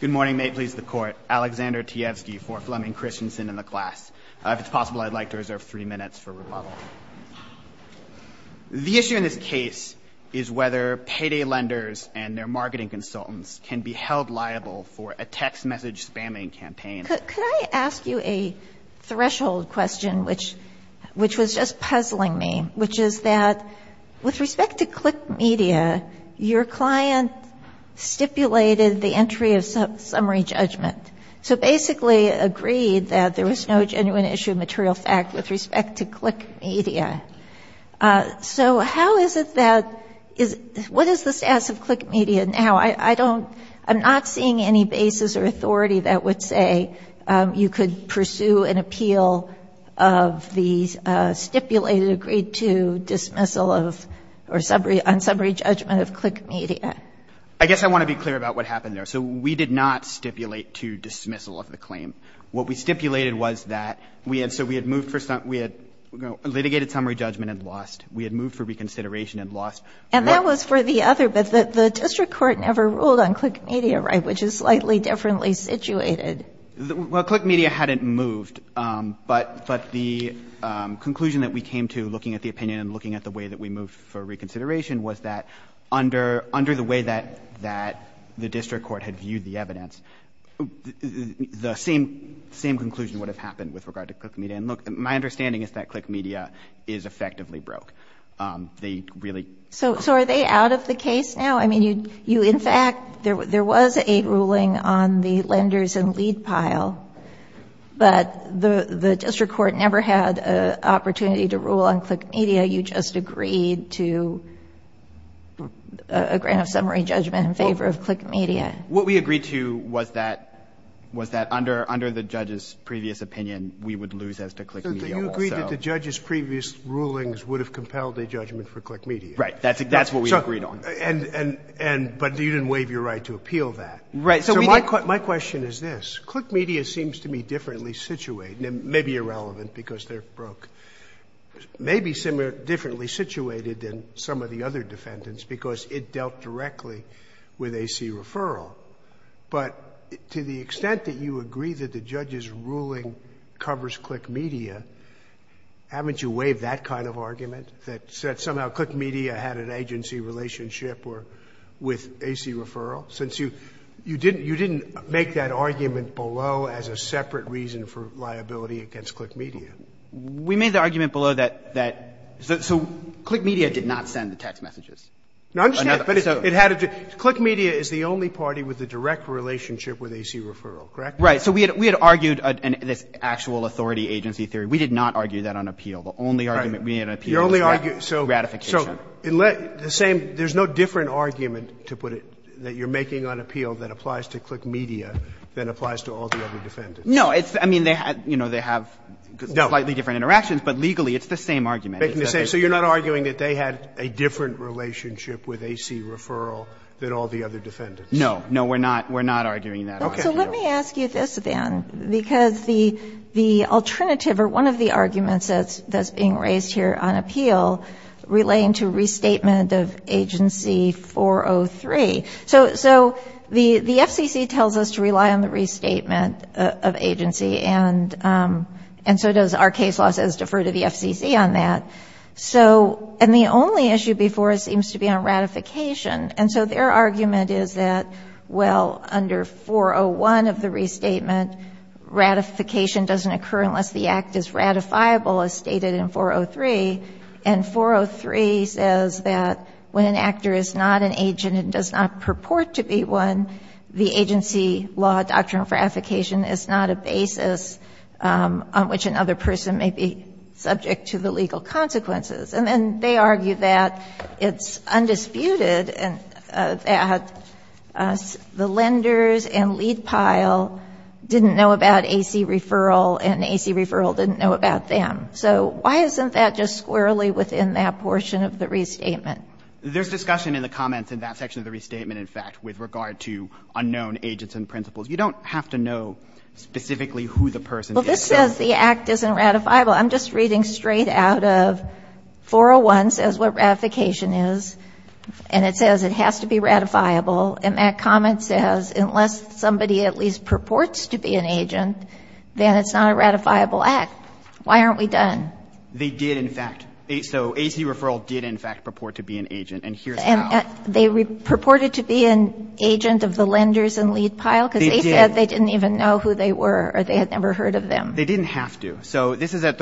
Good morning. May it please the Court. Alexander Teofsky for Flemming Kristensen and the class. If it's possible, I'd like to reserve three minutes for rebuttal. The issue in this case is whether payday lenders and their marketing consultants can be held liable for a text message spamming campaign. Could I ask you a threshold question, which was just puzzling me, which is that, with respect to ClickMedia, your client stipulated the entry of summary judgment, so basically agreed that there was no genuine issue of material fact with respect to ClickMedia. So how is it that – what is the status of ClickMedia now? I don't – I'm not seeing any basis or authority that would say you could pursue an appeal of the stipulated agreed-to dismissal of – or on summary judgment of ClickMedia. I guess I want to be clear about what happened there. So we did not stipulate to dismissal of the claim. What we stipulated was that we had – so we had moved for – we had litigated summary judgment and lost. We had moved for reconsideration and lost. And that was for the other, but the district court never ruled on ClickMedia, right, which is slightly differently situated. Well, ClickMedia hadn't moved. But the conclusion that we came to looking at the opinion and looking at the way that we moved for reconsideration was that under the way that the district court had viewed the evidence, the same conclusion would have happened with regard to ClickMedia. And look, my understanding is that ClickMedia is effectively broke. They really – So are they out of the case now? I mean, you – in fact, there was a ruling on the lenders and lead pile, but the district court never had an opportunity to rule on ClickMedia. You just agreed to a grant of summary judgment in favor of ClickMedia. What we agreed to was that – was that under the judge's previous opinion, we would lose as to ClickMedia. So do you agree that the judge's previous rulings would have compelled a judgment for ClickMedia? That's what we agreed on. And – but you didn't waive your right to appeal that. Right. So my question is this. ClickMedia seems to me differently situated – maybe irrelevant because they're broke – maybe differently situated than some of the other defendants because it dealt directly with AC referral. But to the extent that you agree that the judge's ruling covers ClickMedia, haven't you waived that kind of argument, that somehow ClickMedia had an agency relationship or – with AC referral? Since you – you didn't – you didn't make that argument below as a separate reason for liability against ClickMedia. We made the argument below that – that – so ClickMedia did not send the text messages. No, I understand. But it had a – ClickMedia is the only party with a direct relationship with AC referral, correct? Right. So we had – we had argued this actual authority agency theory. The only argument we had on appeal was that it was a direct relationship. Your only argument – so – Gratification. So the same – there's no different argument, to put it, that you're making on appeal that applies to ClickMedia than applies to all the other defendants. No. It's – I mean, they – you know, they have slightly different interactions, but legally it's the same argument. Making the same – so you're not arguing that they had a different relationship with AC referral than all the other defendants? No. No, we're not – we're not arguing that argument. So let me ask you this, then, because the – the alternative or one of the arguments that's being raised here on appeal relaying to restatement of agency 403. So the FCC tells us to rely on the restatement of agency, and so does our case law says defer to the FCC on that. So – and the only issue before us seems to be on ratification. And so their argument is that, well, under 401 of the restatement, ratification doesn't occur unless the act is ratifiable, as stated in 403. And 403 says that when an actor is not an agent and does not purport to be one, the agency law doctrine for ratification is not a basis on which another person may be subject to the legal consequences. And then they argue that it's undisputed that the lenders and lead pile did not know about AC referral and AC referral didn't know about them. So why isn't that just squarely within that portion of the restatement? There's discussion in the comments in that section of the restatement, in fact, with regard to unknown agents and principals. You don't have to know specifically who the person is. Well, this says the act isn't ratifiable. I'm just reading straight out of 401 says what ratification is, and it says it has to be ratifiable. And that comment says unless somebody at least purports to be an agent, then it's not a ratifiable act. Why aren't we done? They did, in fact. So AC referral did, in fact, purport to be an agent, and here's how. And they purported to be an agent of the lenders and lead pile? They did. Because they said they didn't even know who they were or they had never heard of them. They didn't have to. So this is at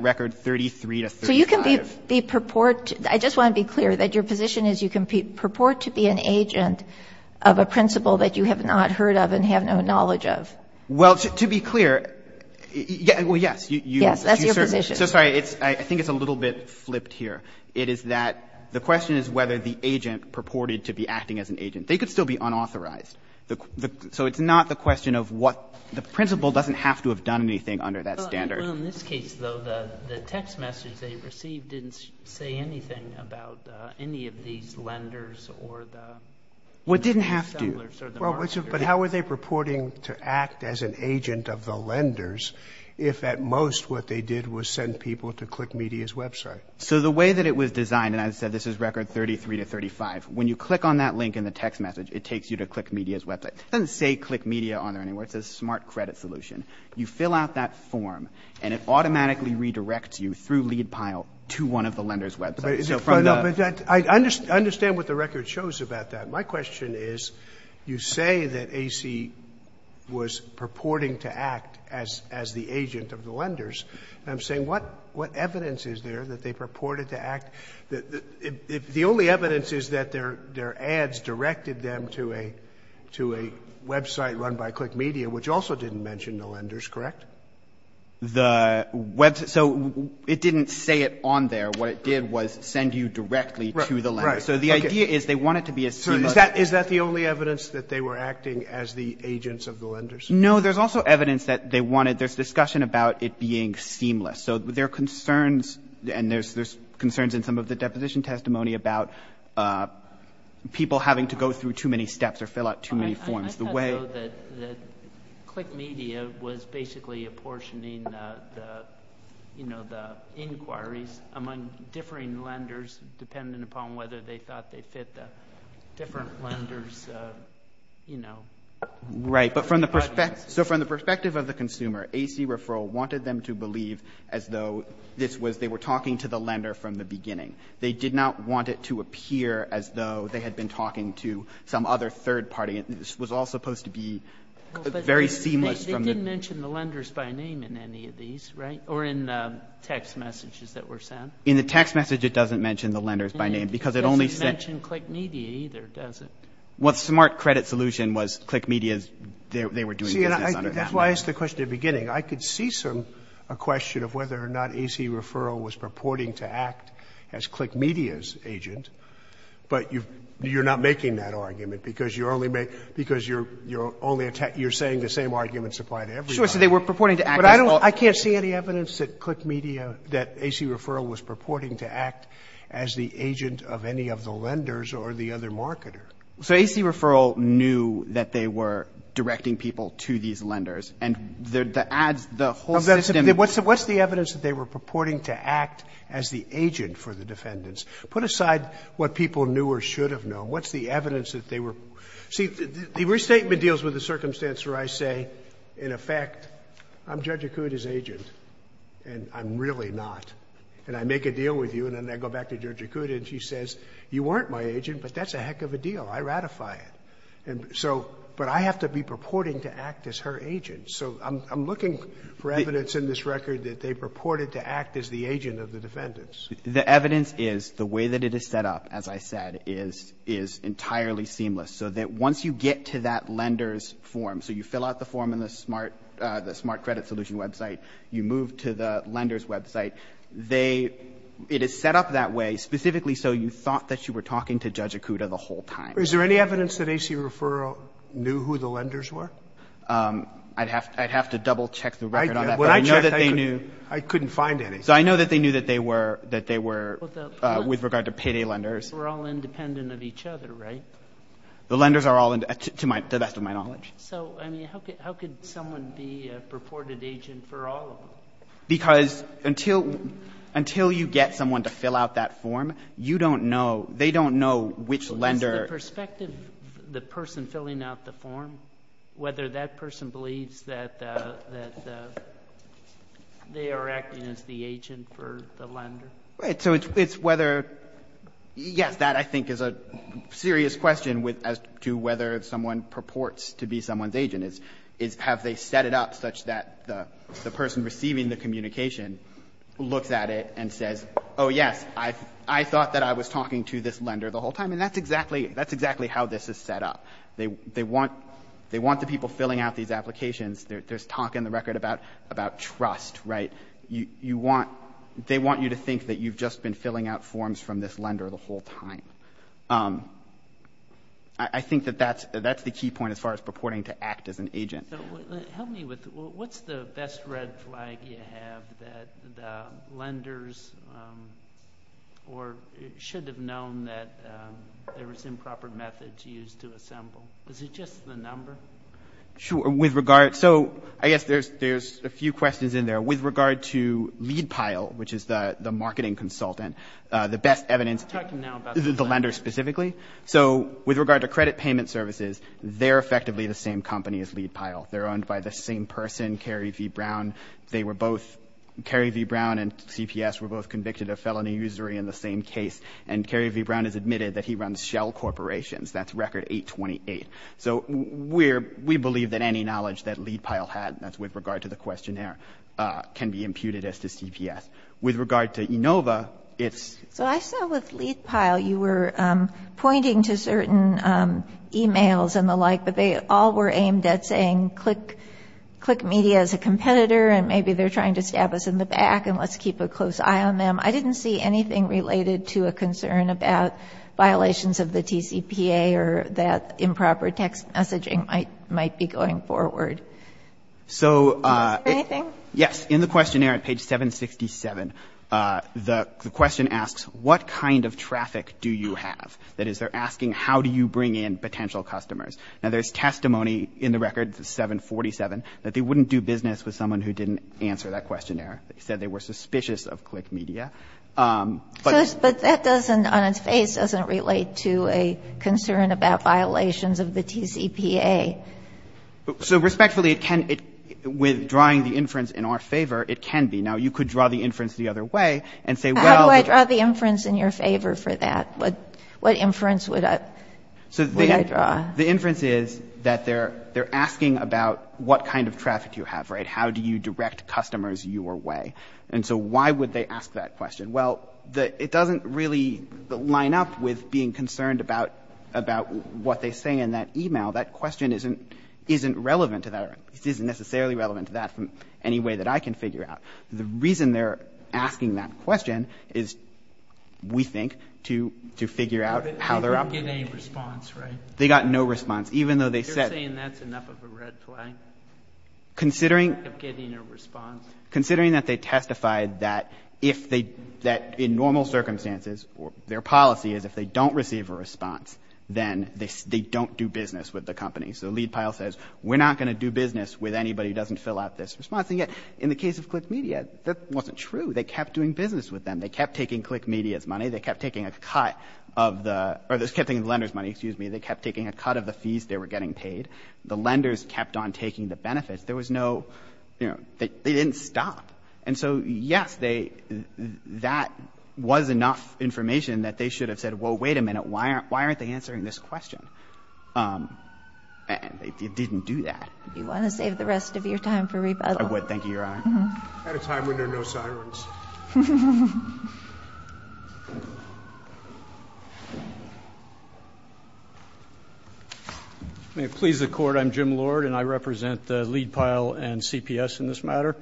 record 33 to 35. So you can be purport to be an agent. Of a principal that you have not heard of and have no knowledge of. Well, to be clear, well, yes. Yes, that's your position. So, sorry, I think it's a little bit flipped here. It is that the question is whether the agent purported to be acting as an agent. They could still be unauthorized. So it's not the question of what the principal doesn't have to have done anything under that standard. Well, in this case, though, the text message they received didn't say anything about any of these lenders or the sellers or the marketers. Well, it didn't have to. But how were they purporting to act as an agent of the lenders if at most what they did was send people to Click Media's website? So the way that it was designed, and I said this is record 33 to 35, when you click on that link in the text message, it takes you to Click Media's website. It doesn't say Click Media on there anywhere. It says Smart Credit Solution. You fill out that form, and it automatically redirects you through lead pile to one of the lenders' websites. I understand what the record shows about that. My question is you say that AC was purporting to act as the agent of the lenders. And I'm saying what evidence is there that they purported to act? The only evidence is that their ads directed them to a website run by Click Media, which also didn't mention the lenders, correct? So it didn't say it on there. What it did was send you directly to the lenders. So the idea is they want it to be as seamless. So is that the only evidence that they were acting as the agents of the lenders? No, there's also evidence that they wanted – there's discussion about it being seamless. So there are concerns, and there's concerns in some of the deposition testimony about people having to go through too many steps or fill out too many forms. I thought, though, that Click Media was basically apportioning the inquiries among differing lenders dependent upon whether they thought they fit the different lenders' – Right. But from the – so from the perspective of the consumer, AC referral wanted them to believe as though this was – they were talking to the lender from the beginning. They did not want it to appear as though they had been talking to some other third party. It was all supposed to be very seamless from the – They didn't mention the lenders by name in any of these, right? Or in text messages that were sent? In the text message, it doesn't mention the lenders by name because it only sent – It doesn't mention Click Media either, does it? Well, the smart credit solution was Click Media's – they were doing business under that name. See, and that's why I asked the question at the beginning. I could see a question of whether or not AC referral was purporting to act as Click Media's agent, but you're not making that argument because you're only – because you're only – you're saying the same arguments apply to everybody. Sure. So they were purporting to act as – But I don't – I can't see any evidence that Click Media – that AC referral was purporting to act as the agent of any of the lenders or the other marketer. So AC referral knew that they were directing people to these lenders, and the ads, the whole system – What's the evidence that they were purporting to act as the agent for the defendants? Put aside what people knew or should have known. What's the evidence that they were – see, the restatement deals with the circumstance where I say, in effect, I'm Judge Acuda's agent, and I'm really not. And I make a deal with you, and then I go back to Judge Acuda, and she says, you weren't my agent, but that's a heck of a deal. I ratify it. And so – but I have to be purporting to act as her agent. So I'm looking for evidence in this record that they purported to act as the agent of the defendants. The evidence is the way that it is set up, as I said, is entirely seamless. So that once you get to that lender's form, so you fill out the form in the smart credit solution website, you move to the lender's website, they – it is set up that way specifically so you thought that you were talking to Judge Acuda the whole time. Is there any evidence that AC referral knew who the lenders were? I'd have to double-check the record on that. But I know that they knew. I couldn't find any. So I know that they knew that they were – that they were with regard to payday lenders. We're all independent of each other, right? The lenders are all, to the best of my knowledge. So, I mean, how could someone be a purported agent for all of them? Because until you get someone to fill out that form, you don't know – they don't know which lender – Is the perspective, the person filling out the form, whether that person believes that they are acting as the agent for the lender? Right. So it's whether – yes, that I think is a serious question as to whether someone purports to be someone's agent, is have they set it up such that the person receiving the communication looks at it and says, oh, yes, I thought that I was talking to this lender the whole time. And that's exactly – that's exactly how this is set up. They want the people filling out these applications – there's talk in the record about trust, right? You want – they want you to think that you've just been filling out forms from this lender the whole time. I think that that's the key point as far as purporting to act as an agent. Help me with – what's the best red flag you have that the lenders – or should have known that there was improper methods used to assemble? Is it just the number? Sure. With regard – so I guess there's a few questions in there. With regard to Leadpile, which is the marketing consultant, the best evidence – We're talking now about the lender. The lender specifically. So with regard to credit payment services, they're effectively the same company as Leadpile. They're owned by the same person, Kerry V. Brown. They were both – Kerry V. Brown and CPS were both convicted of felony usury in the same case. And Kerry V. Brown has admitted that he runs Shell Corporations. That's record 828. So we're – we believe that any knowledge that Leadpile had – that's with regard to the questionnaire – can be imputed as to CPS. With regard to Enova, it's – So I saw with Leadpile you were pointing to certain emails and the like, but they all were aimed at saying click media as a competitor and maybe they're trying to stab us in the back and let's keep a close eye on them. I didn't see anything related to a concern about violations of the TCPA or that improper text messaging might be going forward. So – Anything? Yes. In the questionnaire at page 767, the question asks, what kind of traffic do you have? That is, they're asking, how do you bring in potential customers? Now, there's testimony in the record, 747, that they wouldn't do business with someone who didn't answer that questionnaire. They said they were suspicious of click media. But that doesn't – on its face, doesn't relate to a concern about violations of the TCPA. So respectfully, it can – with drawing the inference in our favor, it can be. Now, you could draw the inference the other way and say, well – How do I draw the inference in your favor for that? What inference would I draw? So the inference is that they're asking about what kind of traffic you have, right? And so why would they ask that question? Well, it doesn't really line up with being concerned about what they say in that email. That question isn't relevant to that – isn't necessarily relevant to that in any way that I can figure out. The reason they're asking that question is, we think, to figure out how they're – They didn't get any response, right? They got no response. Even though they said – You're saying that's enough of a red flag? Considering – Of getting a response? Considering that they testified that if they – that in normal circumstances, their policy is, if they don't receive a response, then they don't do business with the company. So the lead pile says, we're not going to do business with anybody who doesn't fill out this response. And yet, in the case of Click Media, that wasn't true. They kept doing business with them. They kept taking Click Media's money. They kept taking a cut of the – or they kept taking the lender's money, excuse me. They kept taking a cut of the fees they were getting paid. The lenders kept on taking the benefits. There was no – they didn't stop. And so, yes, they – that was enough information that they should have said, well, wait a minute. Why aren't they answering this question? And they didn't do that. You want to save the rest of your time for rebuttal? I would. Thank you, Your Honor. At a time when there are no sirens. May it please the Court. I'm Jim Lord, and I represent the lead pile and CPS in this matter.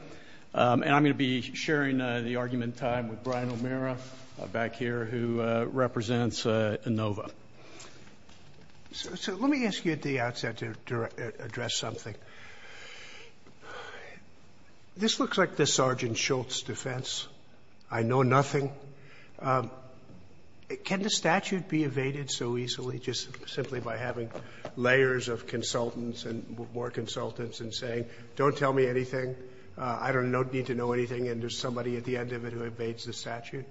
And I'm going to be sharing the argument in time with Brian O'Meara back here, who represents Inova. So let me ask you at the outset to address something. This looks like the Sergeant Shultz defense. I know nothing. Can the statute be evaded so easily just simply by having layers of consultants and more consultants and saying, don't tell me anything, I don't need to know anything, and there's somebody at the end of it who evades the statute?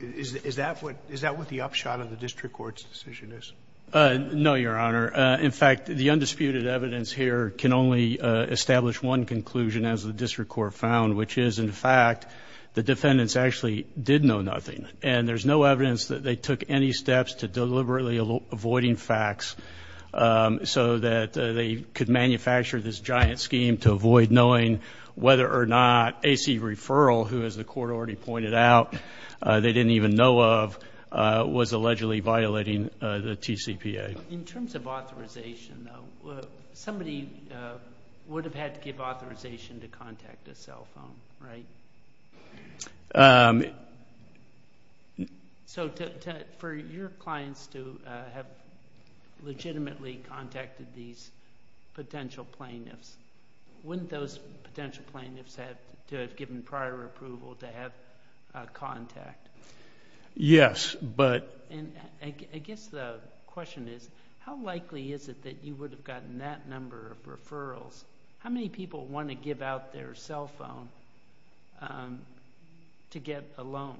Is that what the upshot of the district court's decision is? No, Your Honor. In fact, the undisputed evidence here can only establish one conclusion, as the district court found, which is, in fact, the defendants actually did know nothing. And there's no evidence that they took any steps to deliberately avoiding facts so that they could manufacture this giant scheme to avoid knowing whether or not AC referral, who, as the court already pointed out, they didn't even know of, was allegedly violating the TCPA. In terms of authorization, though, somebody would have had to give authorization to contact a cell phone, right? So for your clients to have legitimately contacted these potential plaintiffs, wouldn't those potential plaintiffs have to have given prior approval to have contact? Yes. I guess the question is, how likely is it that you would have gotten that number of referrals? How many people want to give out their cell phone to get a loan?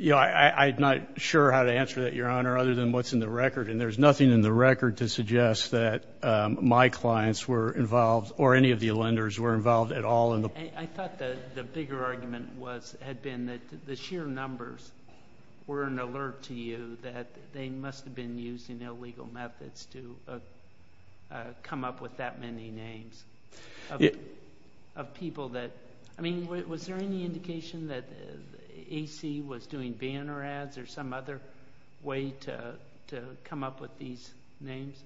I'm not sure how to answer that, Your Honor, other than what's in the record, and there's nothing in the record to suggest that my clients were involved or any of the lenders were involved at all. I thought the bigger argument had been that the sheer numbers were an alert to you that they must have been using illegal methods to come up with that many names of people that, I mean, was there any indication that AC was doing banner ads or some other way to come up with these names?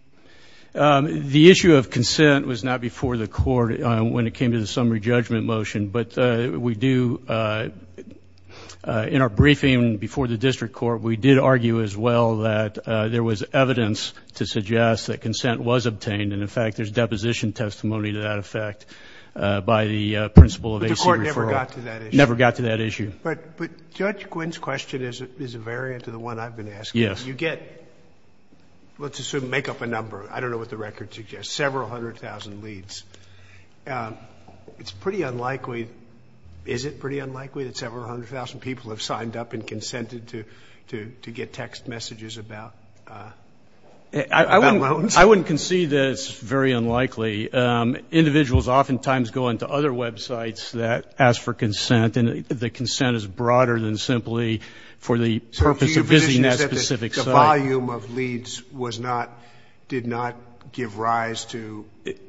The issue of consent was not before the court when it came to the summary judgment motion, but we do, in our briefing before the district court, we did argue as well that there was evidence to suggest that consent was obtained, and, in fact, there's deposition testimony to that effect by the principal of AC referral. But the court never got to that issue? Never got to that issue. But Judge Quinn's question is a variant to the one I've been asking. Yes. You get, let's assume, make up a number, I don't know what the record suggests, several hundred thousand leads. It's pretty unlikely, is it pretty unlikely that several hundred thousand people have signed up and consented to get text messages about loans? I wouldn't concede that it's very unlikely. Individuals oftentimes go into other websites that ask for consent, and the consent is broader than simply for the purpose of visiting that specific site. The volume of leads was not, did not give rise to?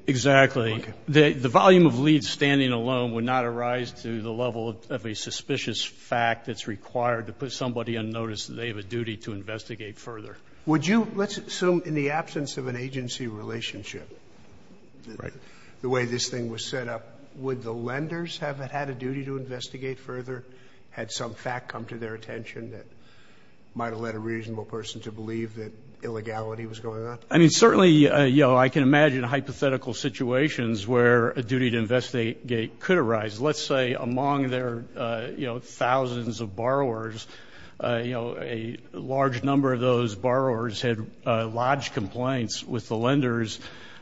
Exactly. The volume of leads standing alone would not arise to the level of a suspicious fact that's required to put somebody on notice that they have a duty to investigate further. Would you, let's assume in the absence of an agency relationship, the way this thing was set up, would the lenders have had a duty to investigate further had some fact come to their attention that might have led a reasonable person to believe that illegality was going on? I mean, certainly, you know, I can imagine hypothetical situations where a duty to investigate could arise. Let's say among their, you know, thousands of borrowers, you know, a large number of those borrowers had lodged complaints with the lenders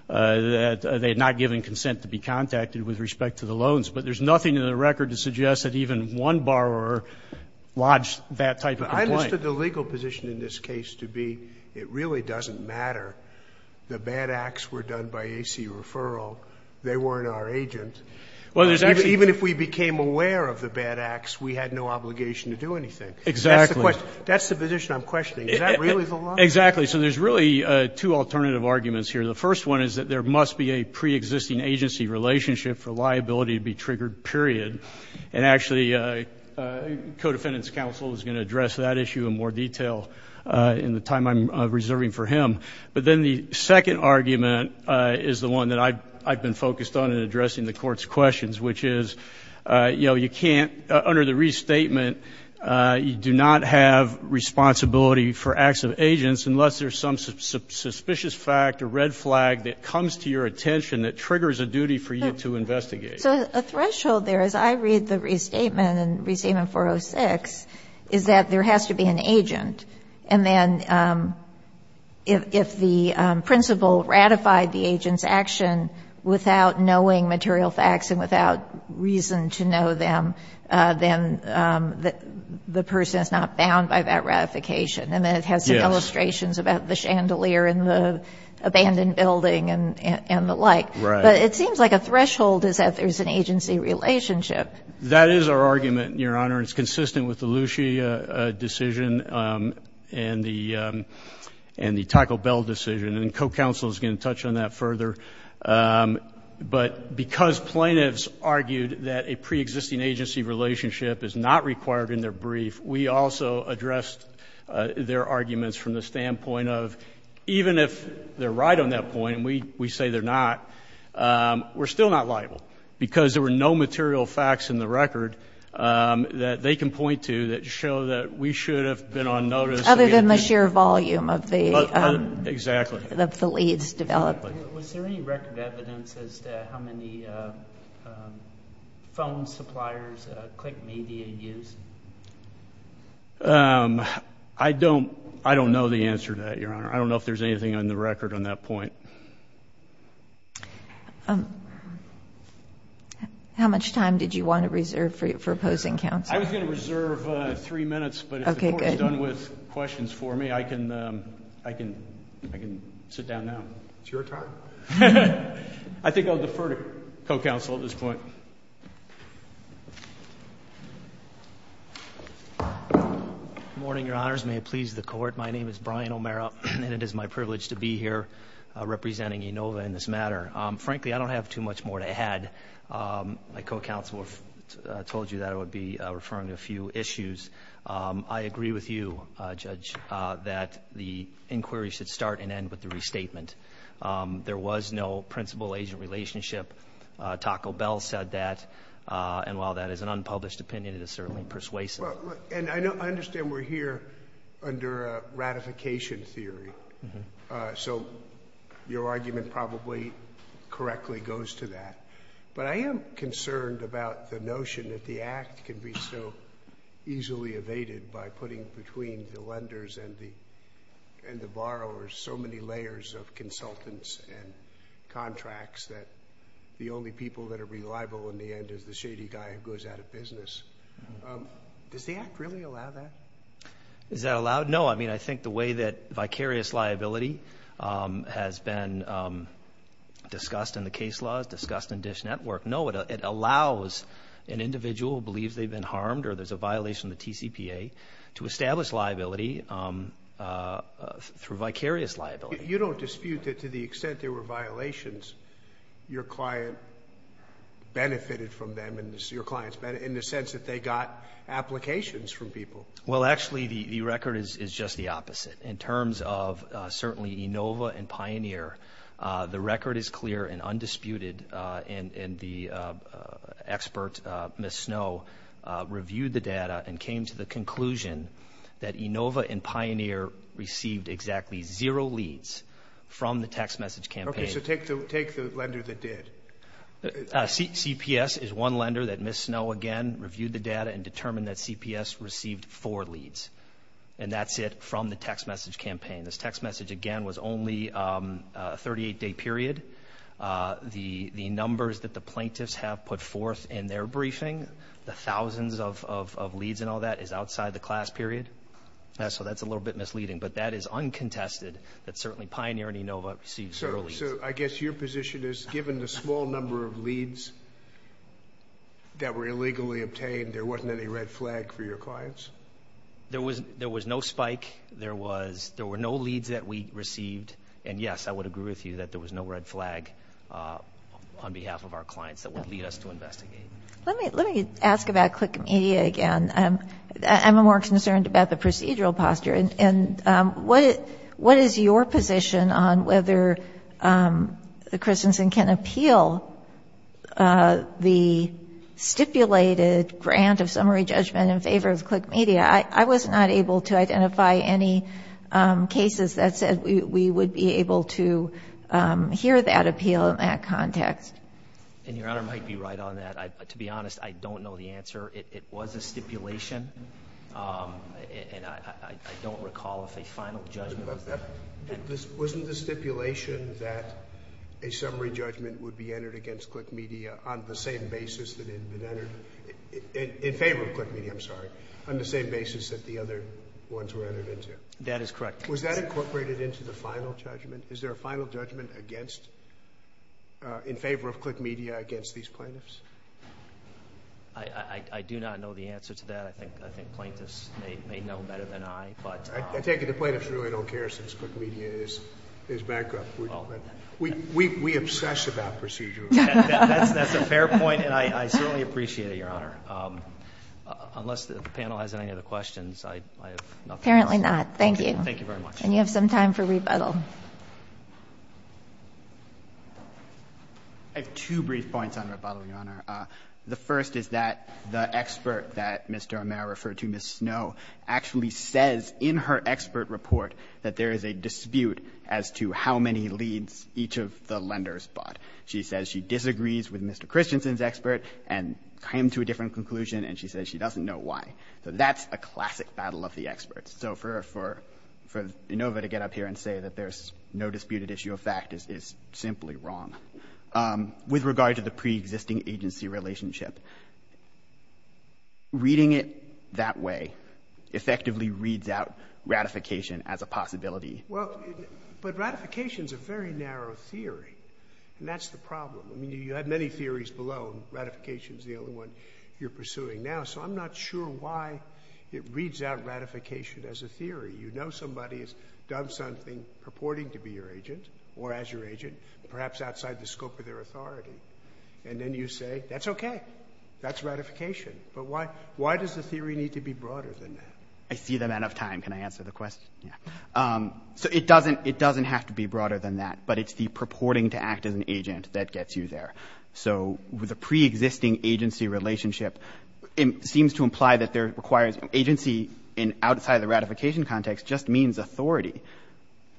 that they had not given consent to be contacted with respect to the loans. But there's nothing in the record to suggest that even one borrower lodged that type of complaint. But I understood the legal position in this case to be it really doesn't matter. The bad acts were done by AC referral. They weren't our agent. Well, there's actually not. Even if we became aware of the bad acts, we had no obligation to do anything. Exactly. That's the position I'm questioning. Is that really the law? Exactly. So there's really two alternative arguments here. The first one is that there must be a preexisting agency relationship for liability to be triggered, period. And actually, co-defendant's counsel is going to address that issue in more detail in the time I'm reserving for him. But then the second argument is the one that I've been focused on in addressing the Court's questions, which is, you know, you can't, under the restatement, you do not have responsibility for acts of agents unless there's some suspicious fact or red flag that comes to your attention that triggers a duty for you to investigate. So a threshold there, as I read the restatement in Restatement 406, is that there has to be an agent. And then if the principal ratified the agent's action without knowing material facts and without reason to know them, then the person is not bound by that ratification. And then it has some illustrations about the chandelier in the abandoned building and the like. But it seems like a threshold is that there's an agency relationship. That is our argument, Your Honor, and it's consistent with the Lucia decision and the Taco Bell decision. And co-counsel is going to touch on that further. But because plaintiffs argued that a preexisting agency relationship is not required in their brief, we also addressed their arguments from the standpoint of, even if they're right on that point and we say they're not, we're still not liable because there were no material facts in the record that they can point to that show that we should have been on notice. Other than the sheer volume of the leads developed. Was there any record evidence as to how many phone suppliers Click Media used? I don't know the answer to that, Your Honor. I don't know if there's anything on the record on that point. How much time did you want to reserve for opposing counsel? I was going to reserve three minutes, but if the Court is done with questions for me, I can sit down now. It's your turn. I think I'll defer to co-counsel at this point. Good morning, Your Honors. May it please the Court. My name is Brian O'Mara, and it is my privilege to be here representing ENOVA in this matter. Frankly, I don't have too much more to add. My co-counsel told you that I would be referring to a few issues. I agree with you, Judge, that the inquiry should start and end with the restatement. There was no principal-agent relationship. Taco Bell said that. And while that is an unpublished opinion, it is certainly persuasive. And I understand we're here under a ratification theory. So your argument probably correctly goes to that. But I am concerned about the notion that the Act can be so easily evaded by putting between the lenders and the borrowers so many layers of consultants and contracts that the only people that are reliable in the end is the shady guy who goes out of business. Does the Act really allow that? Is that allowed? No. I mean, I think the way that vicarious liability has been discussed in the case laws, discussed in DISH Network, no, it allows an individual who believes they've been harmed or there's a violation of the TCPA to establish liability through vicarious liability. You don't dispute that to the extent there were violations, your client benefited from them in the sense that they got applications from people. Well, actually, the record is just the opposite. In terms of certainly Enova and Pioneer, the record is clear and undisputed. And the expert, Ms. Snow, reviewed the data and came to the conclusion that Enova and Pioneer received exactly zero leads from the text message campaign. Okay. So take the lender that did. CPS is one lender that Ms. Snow, again, reviewed the data and determined that CPS received four leads. And that's it from the text message campaign. This text message, again, was only a 38-day period. The numbers that the plaintiffs have put forth in their briefing, the thousands of leads and all that is outside the class period. So that's a little bit misleading. But that is uncontested that certainly Pioneer and Enova received zero leads. So I guess your position is given the small number of leads that were illegally obtained, there wasn't any red flag for your clients? There was no spike. There were no leads that we received. And, yes, I would agree with you that there was no red flag on behalf of our clients that would lead us to investigate. Let me ask about Click Media again. I'm more concerned about the procedural posture. And what is your position on whether Christensen can appeal the stipulated grant of summary judgment in favor of Click Media? I was not able to identify any cases that said we would be able to hear that appeal in that context. And Your Honor might be right on that. To be honest, I don't know the answer. It was a stipulation. And I don't recall if a final judgment was that. Wasn't the stipulation that a summary judgment would be entered against Click Media on the same basis that it had been entered? In favor of Click Media, I'm sorry. On the same basis that the other ones were entered into. That is correct. Was that incorporated into the final judgment? Is there a final judgment in favor of Click Media against these plaintiffs? I do not know the answer to that. I think plaintiffs may know better than I. I take it the plaintiffs really don't care since Click Media is bankrupt. We obsess about procedural. That's a fair point, and I certainly appreciate it, Your Honor. Unless the panel has any other questions, I have nothing else. Apparently not. Thank you very much. And you have some time for rebuttal. I have two brief points on rebuttal, Your Honor. The first is that the expert that Mr. O'Meara referred to, Ms. Snow, actually says in her expert report that there is a dispute as to how many leads each of the lenders bought. She says she disagrees with Mr. Christensen's expert and came to a different conclusion, and she says she doesn't know why. So that's a classic battle of the experts. So for Inova to get up here and say that there's no disputed issue of fact is simply wrong. With regard to the preexisting agency relationship, reading it that way effectively reads out ratification as a possibility. Well, but ratification is a very narrow theory, and that's the problem. I mean, you have many theories below, and ratification is the only one you're pursuing now. So I'm not sure why it reads out ratification as a theory. You know somebody has done something purporting to be your agent or as your agent, perhaps outside the scope of their authority. And then you say, that's okay. That's ratification. But why does the theory need to be broader than that? I see the amount of time. Can I answer the question? Yeah. So it doesn't have to be broader than that, but it's the purporting to act as an agent that gets you there. So the preexisting agency relationship seems to imply that there requires agency outside the ratification context just means authority,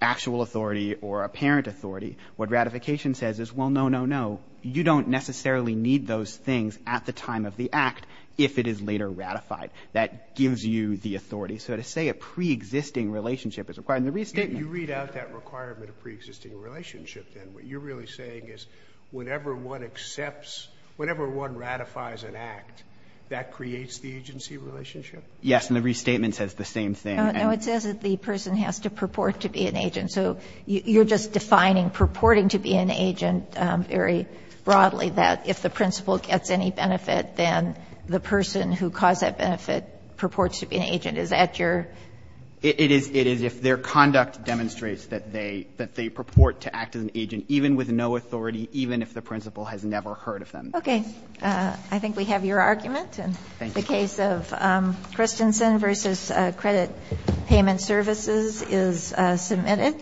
actual authority or apparent authority. What ratification says is, well, no, no, no. You don't necessarily need those things at the time of the act if it is later ratified. That gives you the authority. So to say a preexisting relationship is required in the restatement. You read out that requirement of preexisting relationship, then. What you're really saying is whenever one accepts, whenever one ratifies an act, that creates the agency relationship? Yes. And the restatement says the same thing. No, it says that the person has to purport to be an agent. So you're just defining purporting to be an agent very broadly, that if the principal gets any benefit, then the person who caused that benefit purports to be an agent. Is that your? It is if their conduct demonstrates that they purport to act as an agent, even with no authority, even if the principal has never heard of them. Okay. I think we have your argument. Thank you. The case of Christensen v. Credit Payment Services is submitted.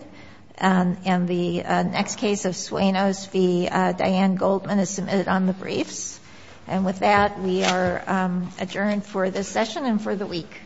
And the next case of Suenos v. Diane Goldman is submitted on the briefs. And with that, we are adjourned for this session and for the week.